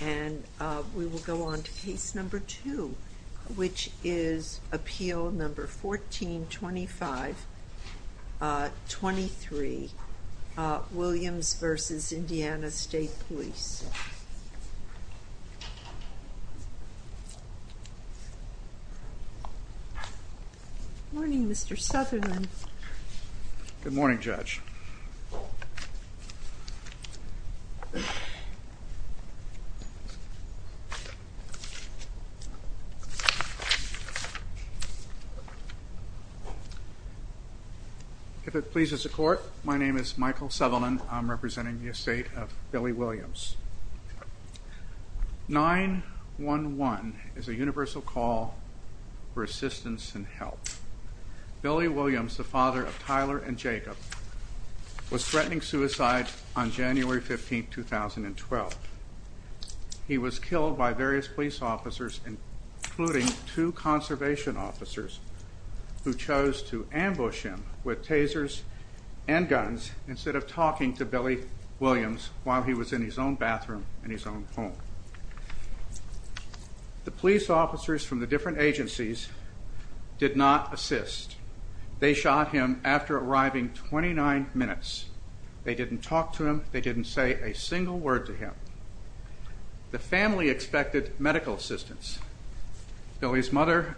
And we will go on to case number two, which is appeal number 14-25-23, Williams v. Indiana State Police. Morning, Mr. Southerland. Good morning, Judge. If it pleases the court, my name is Michael Southerland, I'm representing the estate of Billy Williams. 911 is a universal call for assistance and help. Billy Williams, the father of Tyler and Jacob, was threatening suicide on January 15, 2012. He was killed by various police officers, including two conservation officers, who chose to ambush him with tasers and guns instead of talking to Billy Williams while he was in his own bathroom in his own home. The police officers from the different agencies did not assist. They shot him after arriving 29 minutes. They didn't talk to him. They didn't say a single word to him. The family expected medical assistance. Billy's mother,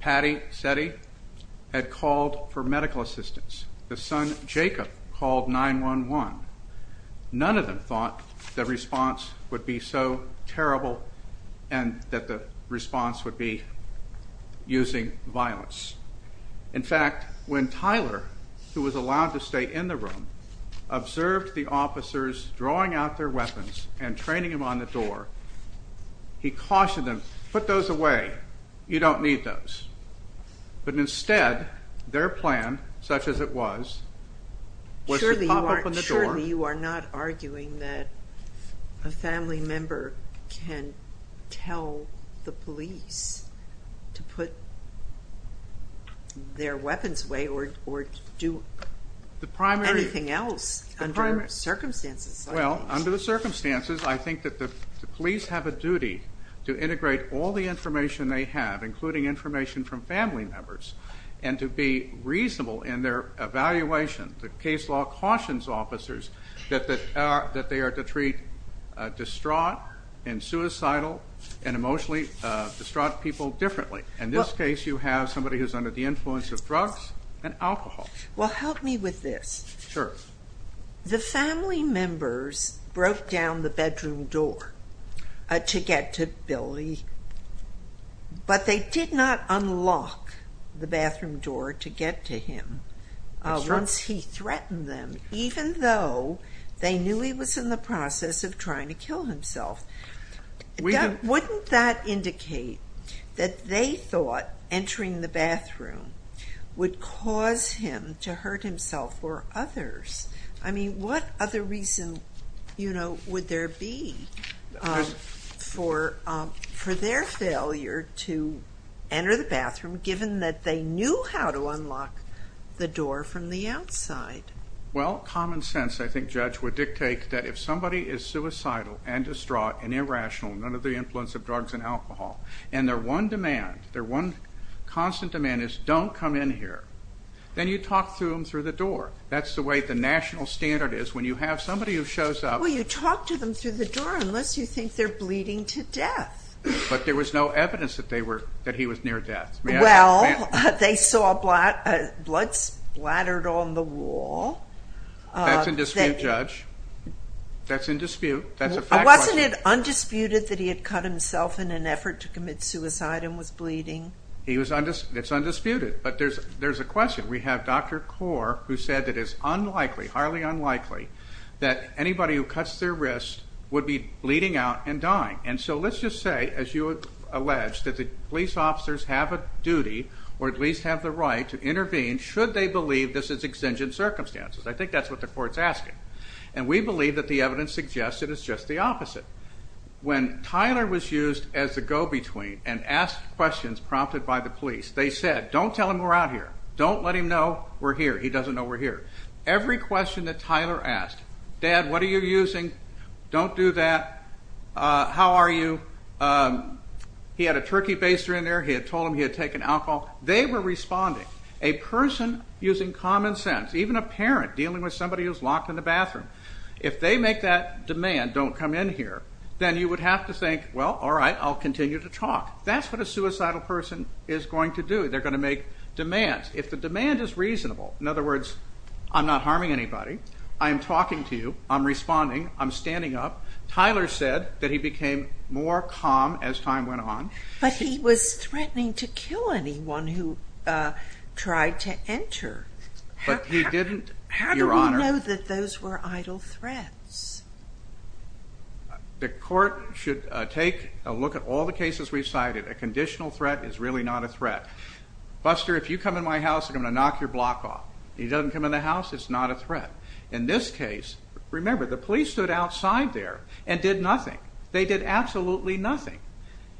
Patty Setti, had called for medical assistance. The son, Jacob, called 911. None of them thought the response would be so terrible and that the response would be using violence. In fact, when Tyler, who was allowed to stay in the room, observed the officers drawing out their weapons and training them on the door, he cautioned them, put those away, you don't need those. But instead, their plan, such as it was, was to pop open the door. Surely you are not arguing that a family member can tell the police to put their weapons away or do anything else under circumstances like this. Well, under the circumstances, I think that the police have a duty to integrate all the information they have, including information from family members. And to be reasonable in their evaluation, the case law cautions officers that they are to treat distraught and suicidal and emotionally distraught people differently. In this case, you have somebody who's under the influence of drugs and alcohol. Well, help me with this. Sure. The family members broke down the bedroom door to get to Billy. But they did not unlock the bathroom door to get to him. Once he threatened them, even though they knew he was in the process of trying to kill himself. Wouldn't that indicate that they thought entering the bathroom would cause him to hurt himself or others? I mean, what other reason would there be for their failure to enter the bathroom, given that they knew how to unlock the door from the outside? Well, common sense, I think, Judge, would dictate that if somebody is suicidal and distraught and irrational, under the influence of drugs and alcohol, and their one demand, their one constant demand is don't come in here, then you talk to them through the door. That's the way the national standard is. When you have somebody who shows up- Well, you talk to them through the door unless you think they're bleeding to death. But there was no evidence that he was near death. Well, they saw blood splattered on the wall. That's in dispute, Judge. That's in dispute. That's a fact question. Wasn't it undisputed that he had cut himself in an effort to commit suicide and was bleeding? It's undisputed, but there's a question. We have Dr. Core, who said it is unlikely, highly unlikely, that anybody who cuts their wrist would be bleeding out and dying. And so let's just say, as you alleged, that the police officers have a duty, or at least have the right, to intervene should they believe this is exigent circumstances. I think that's what the court's asking. And we believe that the evidence suggests that it's just the opposite. When Tyler was used as the go-between and asked questions prompted by the police, they said, don't tell him we're out here. Don't let him know we're here. He doesn't know we're here. Every question that Tyler asked, Dad, what are you using? Don't do that. How are you? He had a turkey baster in there. He had told him he had taken alcohol. They were responding. A person using common sense, even a parent dealing with somebody who's locked in the bathroom. If they make that demand, don't come in here, then you would have to think, well, all right, I'll continue to talk. That's what a suicidal person is going to do. They're going to make demands. If the demand is reasonable, in other words, I'm not harming anybody. I'm talking to you. I'm responding. I'm standing up. Tyler said that he became more calm as time went on. But he was threatening to kill anyone who tried to enter. But he didn't, Your Honor. How do we know that those were idle threats? The court should take a look at all the cases we've cited. A conditional threat is really not a threat. Buster, if you come in my house, I'm going to knock your block off. He doesn't come in the house, it's not a threat. In this case, remember, the police stood outside there and did nothing. They did absolutely nothing.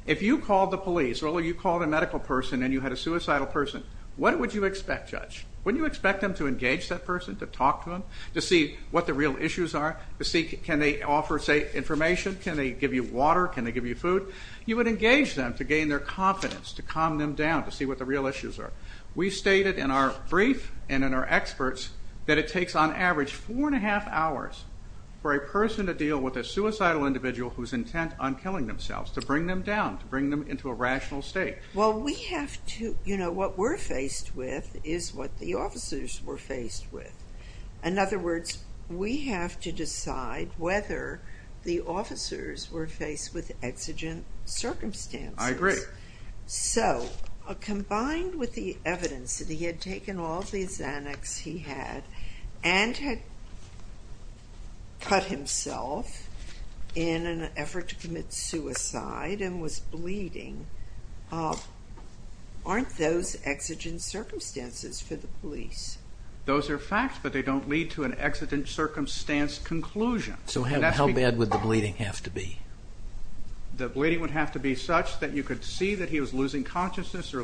If you called the police or you called a medical person and you had a suicidal person, what would you expect, judge? Wouldn't you expect them to engage that person, to talk to them, to see what the real issues are, to see, can they offer, say, information? Can they give you water? Can they give you food? You would engage them to gain their confidence, to calm them down, to see what the real issues are. We stated in our brief and in our experts that it takes on average four and a half hours for a person to deal with a suicidal individual who's intent on killing themselves, to bring them down, to bring them into a rational state. Well, we have to, you know, what we're faced with is what the officers were faced with. In other words, we have to decide whether the officers were faced with exigent circumstances. I agree. So, combined with the evidence that he had taken all these annex he had and had cut himself in an effort to commit suicide and was bleeding, aren't those exigent circumstances for the police? Those are facts, but they don't lead to an exigent circumstance conclusion. So how bad would the bleeding have to be? The bleeding would have to be such that you could see that he was losing consciousness or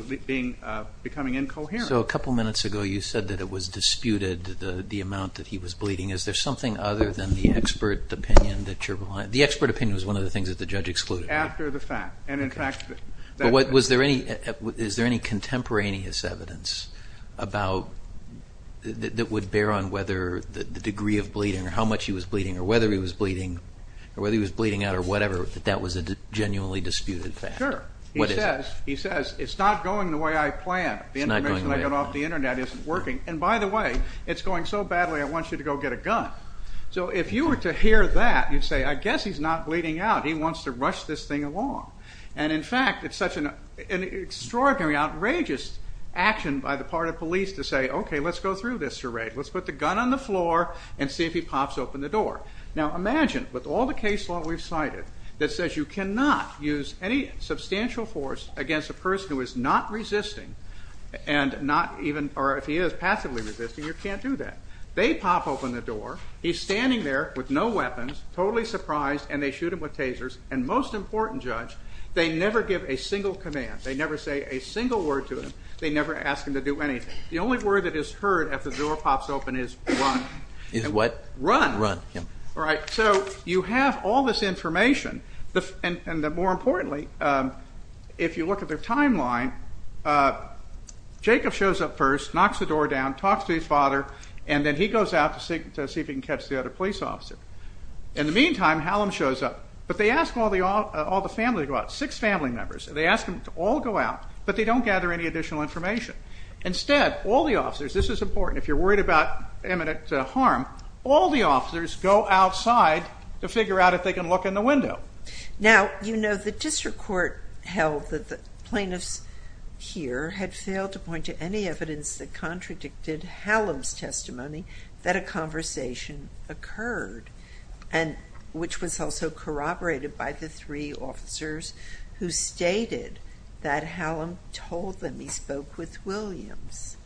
becoming incoherent. So, a couple minutes ago you said that it was disputed, the amount that he was bleeding. Is there something other than the expert opinion that you're behind? The expert opinion was one of the things that the judge excluded. After the fact. And in fact, that- But was there any contemporaneous evidence about, that would bear on whether the degree of bleeding or how much he was bleeding or whether he was bleeding out or whatever, that that was a genuinely disputed fact? Sure. What is it? He says, it's not going the way I planned. The information I got off the internet isn't working. And by the way, it's going so badly I want you to go get a gun. So if you were to hear that, you'd say, I guess he's not bleeding out. He wants to rush this thing along. And in fact, it's such an extraordinary, outrageous action by the part of police to say, okay, let's go through this charade. Let's put the gun on the floor and see if he pops open the door. Now imagine, with all the case law we've cited, that says you cannot use any substantial force against a person who is not resisting. And not even, or if he is passively resisting, you can't do that. They pop open the door, he's standing there with no weapons, totally surprised, and they shoot him with tasers. And most important, judge, they never give a single command. They never say a single word to him. They never ask him to do anything. The only word that is heard after the door pops open is run. Is what? Run. Run, yeah. All right, so you have all this information. And more importantly, if you look at their timeline, Jacob shows up first, knocks the door down, talks to his father. And then he goes out to see if he can catch the other police officer. In the meantime, Hallam shows up. But they ask all the family to go out, six family members. They ask them to all go out, but they don't gather any additional information. Instead, all the officers, this is important, if you're worried about imminent harm, all the officers go outside to figure out if they can look in the window. Now, you know the district court held that the plaintiffs here had failed to point to any evidence that contradicted Hallam's testimony that a conversation occurred, and which was also corroborated by the three officers who stated that Hallam told them he spoke with Williams.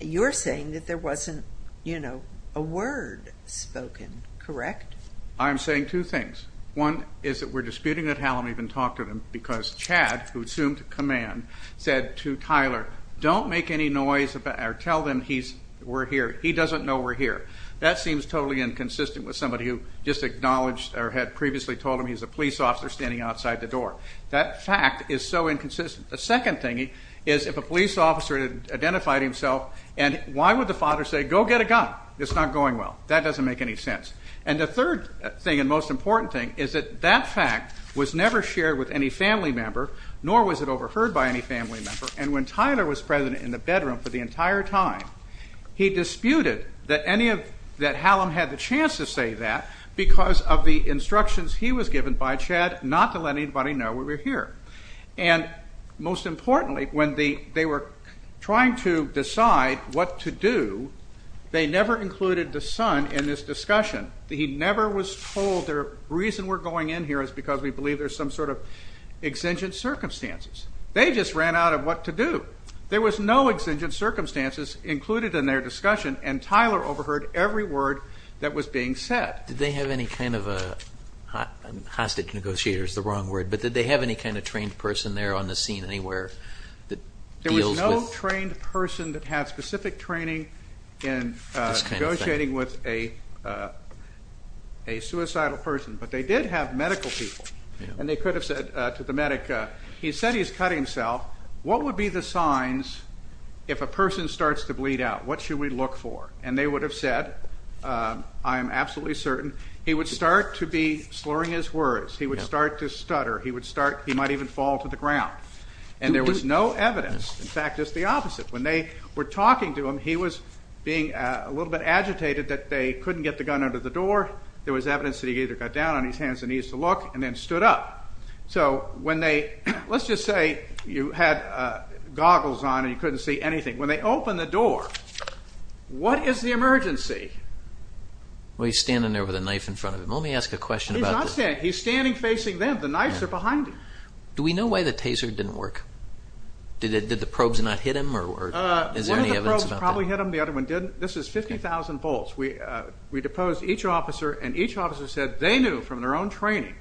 You're saying that there wasn't a word spoken, correct? I'm saying two things. One is that we're disputing that Hallam even talked to them because Chad, who assumed command, said to Tyler, don't make any noise or tell them we're here. He doesn't know we're here. That seems totally inconsistent with somebody who just acknowledged or had previously told him he's a police officer standing outside the door. That fact is so inconsistent. The second thing is, if a police officer had identified himself, and why would the father say, go get a gun? It's not going well. That doesn't make any sense. And the third thing, and most important thing, is that that fact was never shared with any family member. Nor was it overheard by any family member. And when Tyler was present in the bedroom for the entire time, he disputed that Hallam had the chance to say that because of the instructions he was given by Chad not to let anybody know we were here. And most importantly, when they were trying to decide what to do, they never included the son in this discussion. He never was told the reason we're going in here is because we believe there's some sort of exigent circumstances. They just ran out of what to do. There was no exigent circumstances included in their discussion, and Tyler overheard every word that was being said. Did they have any kind of a, hostage negotiator is the wrong word, but did they have any kind of trained person there on the scene anywhere that deals with- There was no trained person that had specific training in negotiating with a suicidal person. But they did have medical people, and they could have said to the medic, he said he's cut himself, what would be the signs if a person starts to bleed out? What should we look for? And they would have said, I am absolutely certain, he would start to be slurring his words, he would start to stutter, he might even fall to the ground. And there was no evidence, in fact, just the opposite. When they were talking to him, he was being a little bit agitated that they couldn't get the gun out of the door, there was evidence that he either got down on his hands and knees to look, and then stood up. So when they, let's just say you had goggles on and you couldn't see anything. When they opened the door, what is the emergency? Well, he's standing there with a knife in front of him. Let me ask a question about- He's not standing, he's standing facing them, the knives are behind him. Do we know why the taser didn't work? Did the probes not hit him, or is there any evidence about that? One of the probes probably hit him, the other one didn't. This is 50,000 volts. We deposed each officer, and each officer said they knew from their own training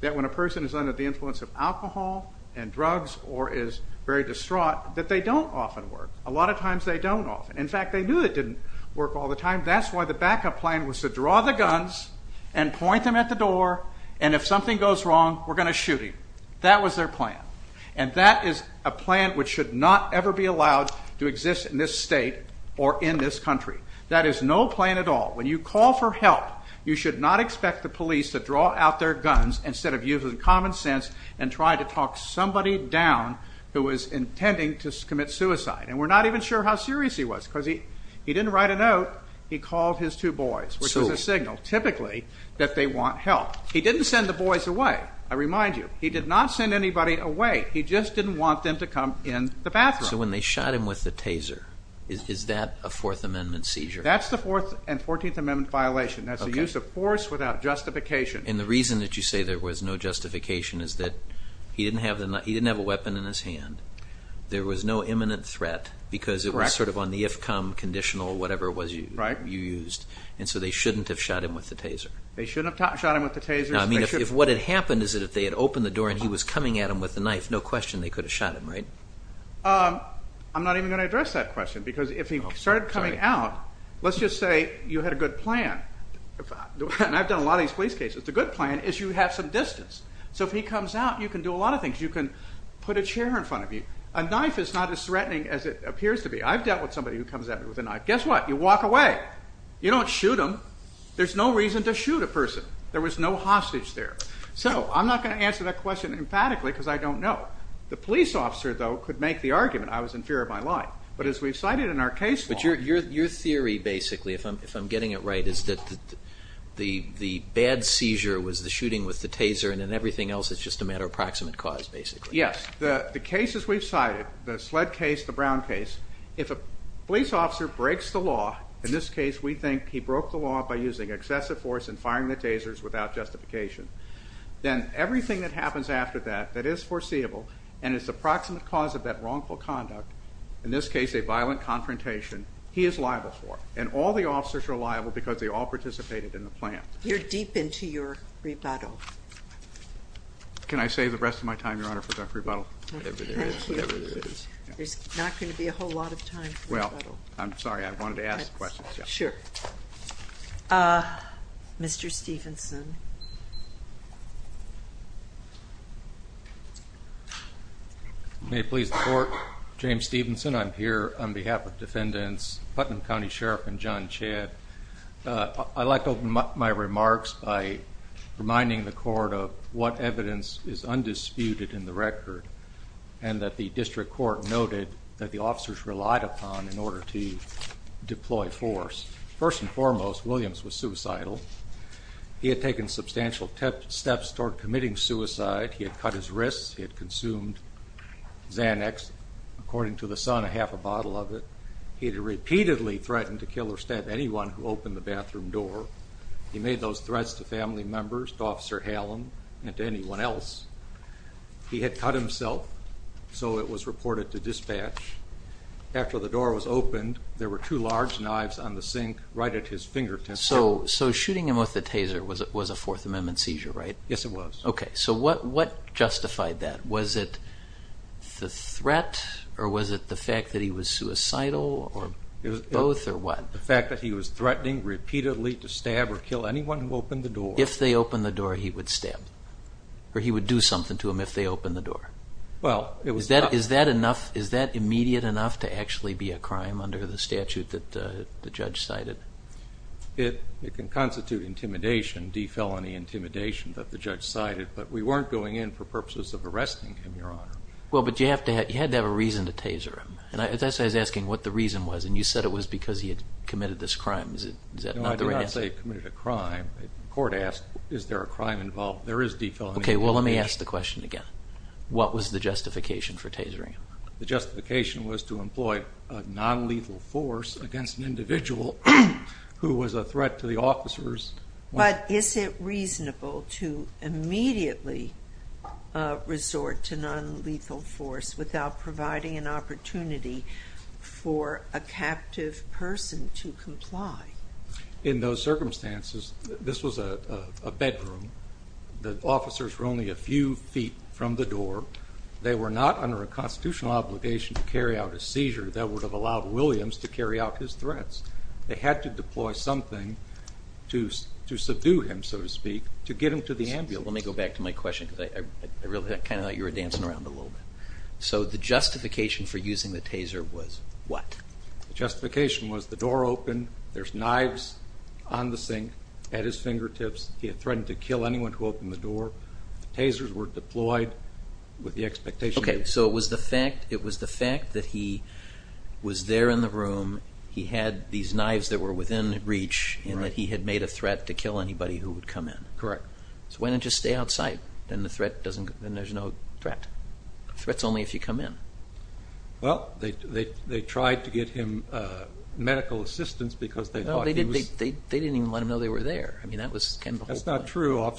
that when a person is under the influence of alcohol and drugs or is very distraught, that they don't often work. A lot of times they don't often. In fact, they knew it didn't work all the time. That's why the backup plan was to draw the guns and point them at the door, and if something goes wrong, we're going to shoot him. That was their plan. And that is a plan which should not ever be allowed to exist in this state or in this country. That is no plan at all. When you call for help, you should not expect the police to draw out their guns instead of using common sense and try to talk somebody down who was intending to commit suicide. And we're not even sure how serious he was, because he didn't write a note. He called his two boys, which is a signal, typically, that they want help. He didn't send the boys away. I remind you, he did not send anybody away. He just didn't want them to come in the bathroom. So when they shot him with the taser, is that a Fourth Amendment seizure? That's the Fourth and Fourteenth Amendment violation. That's a use of force without justification. And the reason that you say there was no justification is that he didn't have a weapon in his hand. There was no imminent threat, because it was sort of on the if-come conditional, whatever it was you used. And so they shouldn't have shot him with the taser. They shouldn't have shot him with the taser. No, I mean, if what had happened is that if they had opened the door and he was coming at him with a knife, no question they could have shot him, right? I'm not even going to address that question, because if he started coming out, let's just say you had a good plan, and I've done a lot of these police cases, the good plan is you have some distance. So if he comes out, you can do a lot of things. You can put a chair in front of you. A knife is not as threatening as it appears to be. I've dealt with somebody who comes at me with a knife. Guess what? You walk away. You don't shoot him. There's no reason to shoot a person. There was no hostage there. So I'm not going to answer that question emphatically, because I don't know. The police officer, though, could make the argument, I was in fear of my life. But as we've cited in our case law- But your theory, basically, if I'm getting it right, is that the bad seizure was the shooting with the taser, and then everything else is just a matter of proximate cause, basically. Yes. The cases we've cited, the SLED case, the Brown case, if a police officer breaks the law, in this case we think he broke the law by using excessive force and firing the tasers without justification, then everything that happens after that, that is foreseeable, and is the proximate cause of that he is liable for. And all the officers are liable because they all participated in the plan. You're deep into your rebuttal. Can I save the rest of my time, Your Honor, for that rebuttal? Whatever it is. Whatever it is. There's not going to be a whole lot of time for rebuttal. I'm sorry. I wanted to ask questions. Sure. Mr. Stevenson. May it please the court. James Stevenson. I'm here on behalf of defendants Putnam County Sheriff and John Chadd. I'd like to open my remarks by reminding the court of what evidence is undisputed in the record, and that the district court noted that the officers relied upon in order to deploy force. First and foremost, Williams was suicidal. He had taken substantial steps toward committing suicide. He had cut his wrists. He had consumed Xanax. According to the son, a half a bottle of it. He had repeatedly threatened to kill or stab anyone who opened the bathroom door. He made those threats to family members, to Officer Hallam, and to anyone else. He had cut himself, so it was reported to dispatch. After the door was opened, there were two large knives on the sink right at his fingertips. So shooting him with a taser was a Fourth Amendment seizure, right? Yes, it was. OK, so what justified that? Was it the threat, or was it the fact that he was suicidal, or both, or what? The fact that he was threatening repeatedly to stab or kill anyone who opened the door. If they opened the door, he would stab. Or he would do something to him if they opened the door. Well, it was not. Is that immediate enough to actually be a crime under the statute that the judge cited? It can constitute intimidation, defelony intimidation, that the judge cited. But we weren't going in for purposes of arresting him, Your Honor. Well, but you had to have a reason to taser him. And as I was asking what the reason was, and you said it was because he had committed this crime. Is that not the right answer? No, I did not say he committed a crime. The court asked, is there a crime involved? There is defelony. OK, well, let me ask the question again. What was the justification for tasering him? The justification was to employ a non-lethal force against an individual who was a threat to the officers. But is it reasonable to immediately resort to non-lethal force without providing an opportunity for a captive person to comply? In those circumstances, this was a bedroom. The officers were only a few feet from the door. They were not under a constitutional obligation to carry out a seizure that would have allowed Williams to carry out his threats. They had to deploy something to subdue him, so to speak, to get him to the ambulance. Let me go back to my question, because I really kind of thought you were dancing around a little bit. So the justification for using the taser was what? The justification was the door open. There's knives on the sink at his fingertips. He had threatened to kill anyone who opened the door. The tasers were deployed with the expectation that he would. OK, so it was the fact that he was there in the room. He had these knives that were within reach, and that he had made a threat to kill anybody who would come in. Correct. So why not just stay outside? Then the threat doesn't, then there's no threat. Threat's only if you come in. Well, they tried to get him medical assistance because they thought he was. They didn't even let him know they were there. I mean, that was kind of the whole point. That's not true.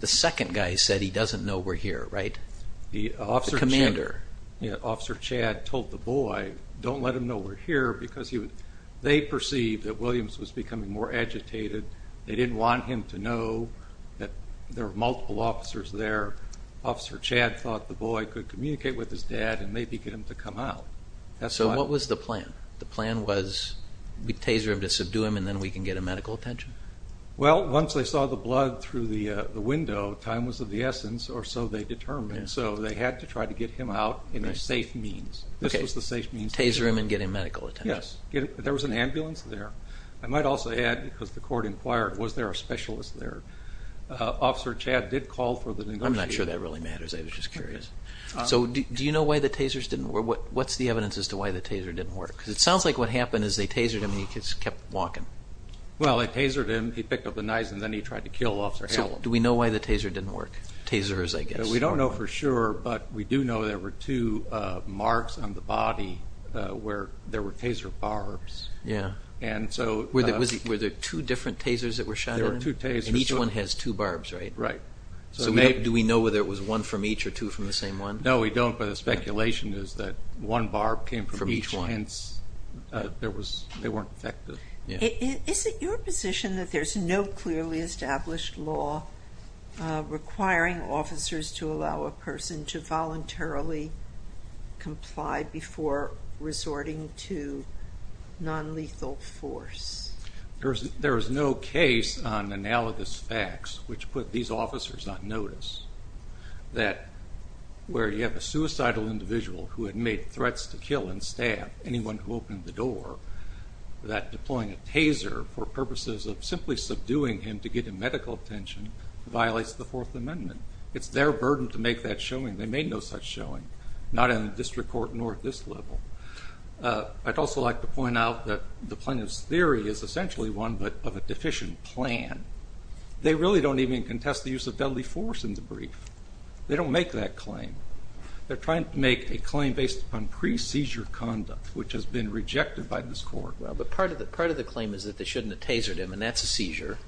The second guy said he doesn't know we're here, right? The officer. The commander. Officer Chad told the boy, don't let him know we're here, because they perceived that Williams was becoming more agitated. They didn't want him to know that there were multiple officers there. Officer Chad thought the boy could communicate with his dad and maybe get him to come out. So what was the plan? The plan was we'd taser him to subdue him, and then we can get a medical attention. Well, once they saw the blood through the window, time was of the essence, or so they determined. So they had to try to get him out in a safe means. This was the safe means. Taser him and get him medical attention. Yes. There was an ambulance there. I might also add, because the court inquired, was there a specialist there? Officer Chad did call for the negotiator. I'm not sure that really matters. I was just curious. So do you know why the tasers didn't work? What's the evidence as to why the taser didn't work? Because it sounds like what happened is they tasered him, and he just kept walking. Well, they tasered him. He picked up the knives, and then he tried to kill Officer Hallam. So do we know why the taser didn't work? Tasers, I guess. We don't know for sure, but we do know there were two marks on the body where there were taser barbs. Yeah. And so Were there two different tasers that were shot at him? There were two tasers. And each one has two barbs, right? Right. So do we know whether it was one from each, or two from the same one? No, we don't, but the speculation is that one barb came from each, hence they weren't effective. Is it your position that there's no clearly established law requiring officers to allow a person to voluntarily comply before resorting to non-lethal force? There is no case on analogous facts which put these officers on notice that where you have a suicidal individual who had made threats to kill and stab anyone who opened the door, that deploying a taser for purposes of simply subduing him to get him medical attention violates the Fourth Amendment. It's their burden to make that showing. They made no such showing, not in the district court nor at this level. I'd also like to point out that the plaintiff's theory is essentially one of a deficient plan. They really don't even contest the use of deadly force in the brief. They don't make that claim. They're trying to make a claim based on pre-seizure conduct, which has been rejected by this court. Well, but part of the claim is that they shouldn't have tasered him, and that's a seizure,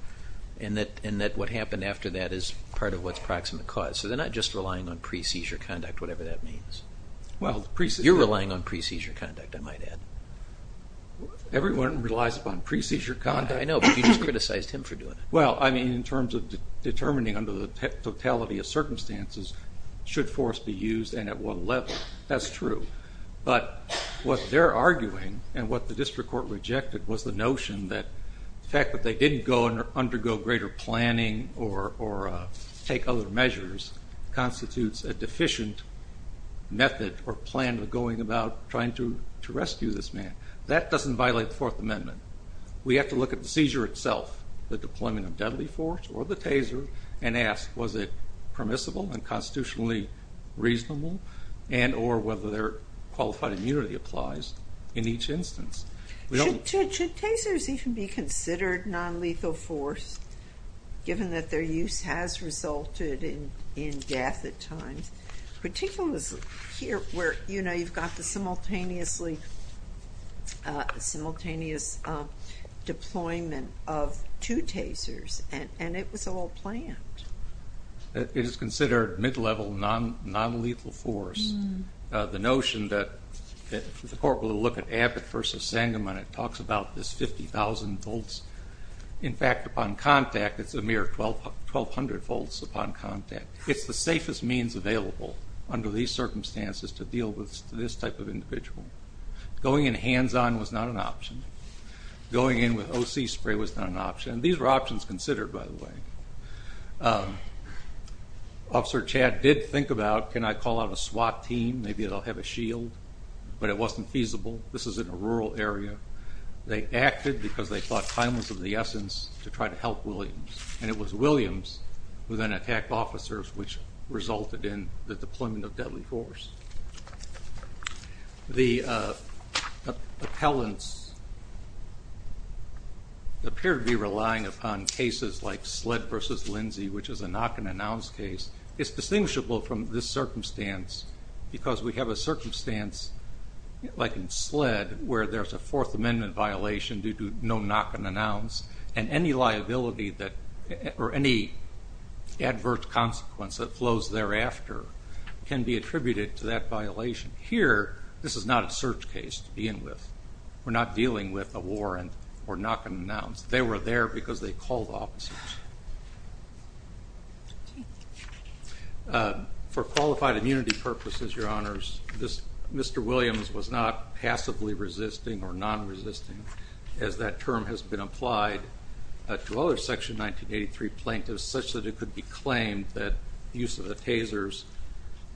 and that what happened after that is part of what's proximate cause. So they're not just relying on pre-seizure conduct, whatever that means. You're relying on pre-seizure conduct, I might add. Everyone relies upon pre-seizure conduct. I know, but you just criticized him for doing it. I mean, in terms of determining under the totality of circumstances should force be used and at what level. That's true. But what they're arguing and what the district court rejected was the notion that the fact that they didn't go and undergo greater planning or take other measures constitutes a deficient method or plan of going about trying to rescue this man. That doesn't violate the Fourth Amendment. We have to look at the seizure itself, the deployment of deadly force or the taser, and ask, was it permissible and constitutionally reasonable, and or whether their qualified immunity applies in each instance. Should tasers even be considered non-lethal force, given that their use has resulted in death at times? Particularly here, where you've got the simultaneous deployment of two tasers, and it was all planned. It is considered mid-level non-lethal force. The notion that the court will look at Abbott versus Sangamon, it talks about this 50,000 volts. In fact, upon contact, it's a mere 1,200 volts upon contact. It's the safest means available under these circumstances to deal with this type of individual. Going in hands-on was not an option. Going in with OC spray was not an option. These were options considered, by the way. Officer Chad did think about, can I call out a SWAT team? Maybe they'll have a shield. But it wasn't feasible. This is in a rural area. They acted because they thought time was of the essence to try to help Williams. And it was Williams who then attacked officers, which resulted in the deployment of deadly force. The appellants appear to be relying upon cases like SLED versus Lindsay, which is a knock-and-announce case. It's distinguishable from this circumstance because we have a circumstance like in SLED where there's a Fourth Amendment violation due to no knock-and-announce. And any liability or any advert consequence that flows thereafter can be attributed to that violation. Here, this is not a search case to begin with. We're not dealing with a warrant or knock-and-announce. They were there because they called officers. For qualified immunity purposes, your honors, Mr. Williams was not passively resisting or non-resisting, as that term has been applied to other Section 1983 plaintiffs, such that it could be claimed that use of the tasers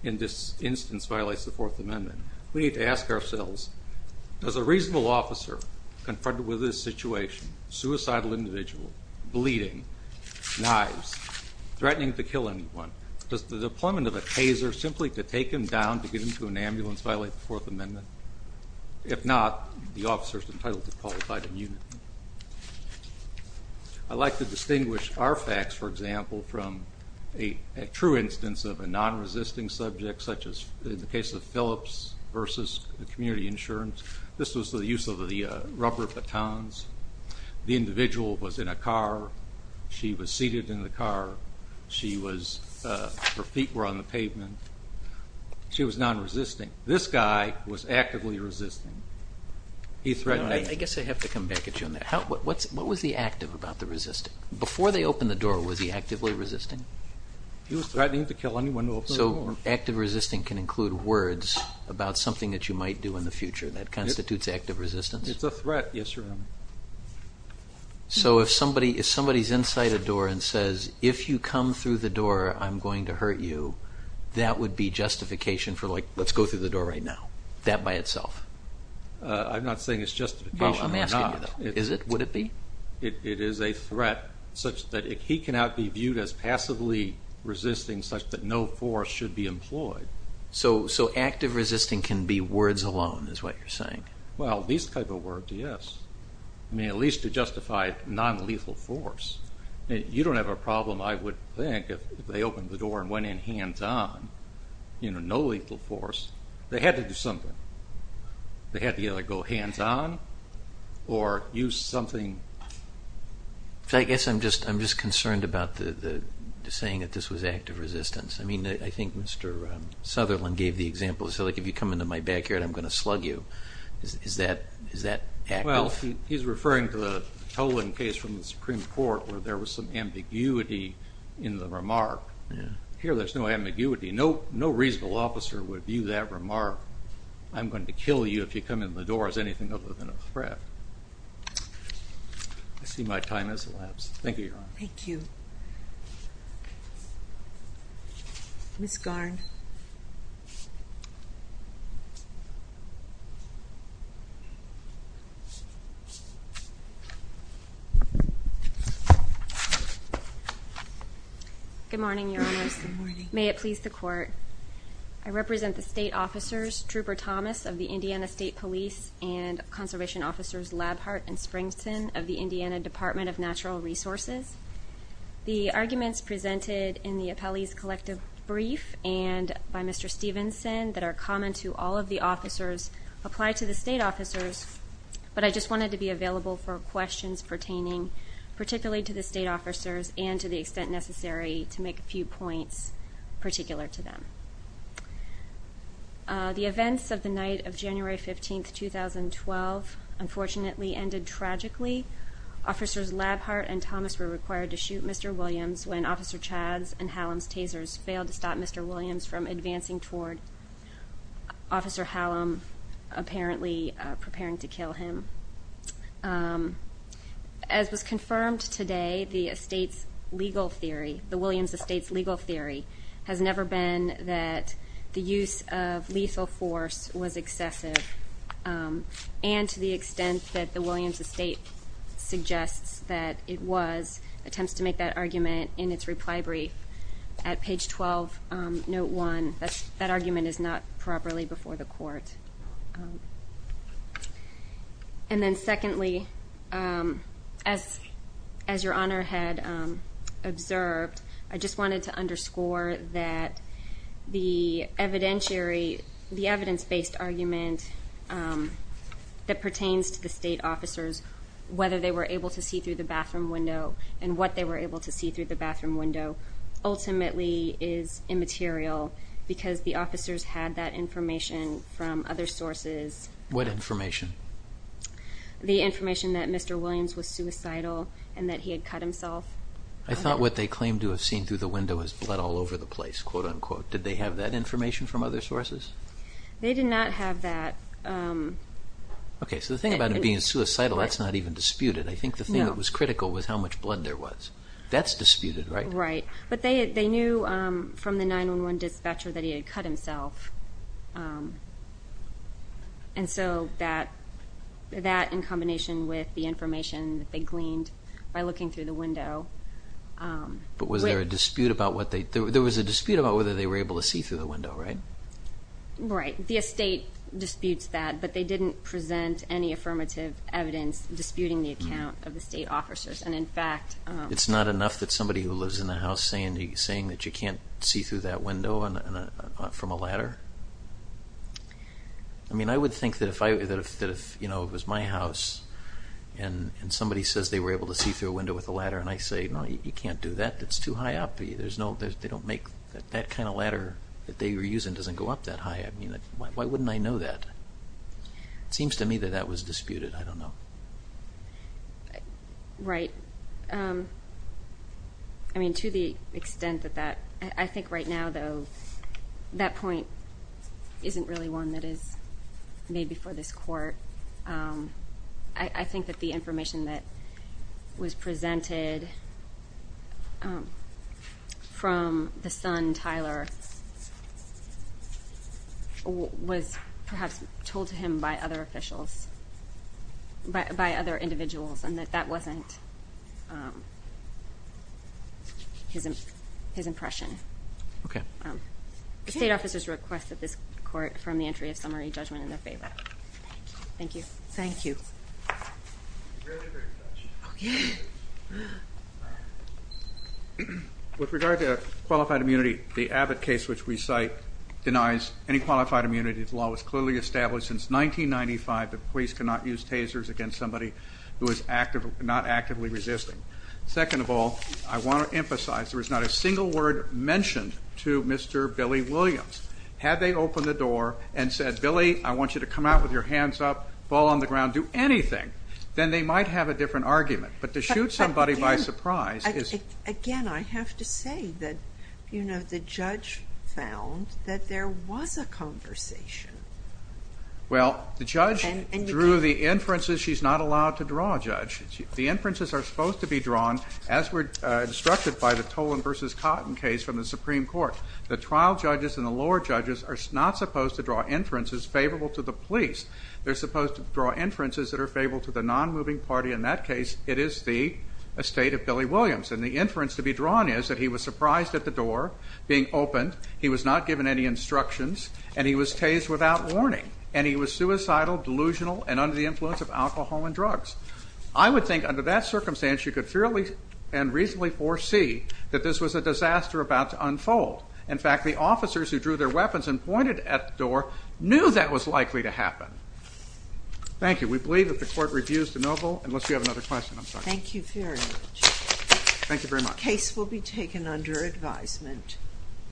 in this instance violates the Fourth Amendment. We need to ask ourselves, does a reasonable officer confronted with this situation, suicidal individual, bleeding, knives, threatening to kill anyone, does the deployment of a taser simply to take him down to get him to an ambulance violate the Fourth Amendment? If not, the officer is entitled to qualified immunity. I'd like to distinguish our facts, for example, from a true instance of a non-resisting subject, such as in the case of Phillips versus community insurance. This was the use of the rubber batons. The individual was in a car. She was seated in the car. Her feet were on the pavement. She was non-resisting. This guy was actively resisting. He threatened to kill anyone. I guess I have to come back at you on that. What was the active about the resisting? Before they opened the door, was he actively resisting? He was threatening to kill anyone who opened the door. So active resisting can include words about something that you might do in the future. That constitutes active resistance? It's a threat, yes, Your Honor. So if somebody is inside a door and says, if you come through the door, I'm going to hurt you, that would be justification for, like, let's go through the door right now? That by itself? I'm not saying it's justification or not. Well, I'm asking you, though. Is it? Would it be? It is a threat such that he cannot be viewed as passively resisting such that no force should be employed. So active resisting can be words alone, is what you're saying. Well, these type of words, yes. I mean, at least to justify non-lethal force. You don't have a problem, I would think, if they opened the door and went in hands-on, no lethal force. They had to do something. They had to either go hands-on or use something. I guess I'm just concerned about the saying that this was active resistance. I mean, I think Mr. Sutherland gave the example. He said, like, if you come into my backyard, I'm going to slug you. Is that active? Well, he's referring to the Toland case from the Supreme Court, where there was some ambiguity in the remark. Here, there's no ambiguity. No reasonable officer would view that remark. I'm going to kill you if you come in the door as anything other than a threat. I see my time has elapsed. Thank you, Your Honor. Thank you. Ms. Garn. Good morning, Your Honors. Good morning. May it please the Court. I represent the state officers, Trooper Thomas of the Indiana State Police, and conservation officers Labhart and Springston of the Indiana Department of Natural Resources. The arguments presented in the appellee's collective brief in the State Department of Natural Resources are the following. to the state officers, but I just wanted to be available for questions pertaining particularly to the state officers and to the extent necessary to make a few points particular to them. The events of the night of January 15, 2012 unfortunately ended tragically. Officers Labhart and Thomas were required to shoot Mr. Williams when Officer Chadds and Hallam's tasers failed to stop Mr. Williams from advancing toward Officer Hallam, apparently preparing to kill him. As was confirmed today, the estate's legal theory, the Williams estate's legal theory, has never been that the use of lethal force was excessive. And to the extent that the Williams estate suggests that it was, attempts to make that argument in its reply brief at page 12, note one, that argument is not properly before the court. And then secondly, as your honor had observed, I just wanted to underscore that the evidence-based argument that pertains to the state officers, whether they were able to see through the bathroom window and what they were able to see through the bathroom window ultimately is immaterial because the officers had that information from other sources. What information? The information that Mr. Williams was suicidal and that he had cut himself. I thought what they claimed to have seen through the window was blood all over the place, quote unquote. Did they have that information from other sources? They did not have that. OK. So the thing about him being suicidal, that's not even disputed. I think the thing that was critical was how much blood there was. That's disputed, right? Right. But they knew from the 911 dispatcher that he had cut himself. And so that, in combination with the information that they gleaned by looking through the window. But was there a dispute about what they, there was a dispute about whether they were able to see through the window, right? Right. The estate disputes that, but they didn't present any affirmative evidence disputing the account of the state officers. And in fact, it's not enough that somebody who lives in the house saying that you can't see through that window from a ladder. I mean, I would think that if it was my house and somebody says they were able to see through a window with a ladder and I say, no, you can't do that. That's too high up. There's no, they don't make, that kind of ladder that they were using doesn't go up that high. I mean, why wouldn't I know that? It seems to me that that was disputed. I don't know. Right. I mean, to the extent that that, I think right now, though, that point isn't really one that is made before this court. I think that the information that was presented from the son, Tyler, was perhaps told to him by other officials, by other individuals and that that wasn't his impression. OK. The state officer's request that this court from the entry of summary judgment in their favor. Thank you. Thank you. Really great question. OK. With regard to qualified immunity, the Abbott case, which we cite, denies any qualified immunity. The law was clearly established since 1995 that police cannot use tasers against somebody who is not actively resisting. Second of all, I want to emphasize there was not a single word mentioned to Mr. Billy Williams. Had they opened the door and said, Billy, I want you to come out with your hands up, fall on the ground, do anything, then they might have a different argument. But to shoot somebody by surprise is. Again, I have to say that the judge found that there was a conversation. Well, the judge drew the inferences. She's not allowed to draw, Judge. The inferences are supposed to be drawn, as were instructed by the Tolan versus Cotton case from the Supreme Court. The trial judges and the lower judges are not supposed to draw inferences favorable to the police. They're supposed to draw inferences that are favorable to the non-moving party. In that case, it is the estate of Billy Williams. And the inference to be drawn is that he was surprised at the door being opened. He was not given any instructions. And he was tased without warning. And he was suicidal, delusional, and under the influence of alcohol and drugs. I would think under that circumstance, you could fairly and reasonably foresee that this was a disaster about to unfold. In fact, the officers who drew their weapons and pointed at the door knew that was likely to happen. Thank you. We believe that the court reviews the noble. Unless you have another question, I'm sorry. Thank you very much. Thank you very much. The case will be taken under advisement.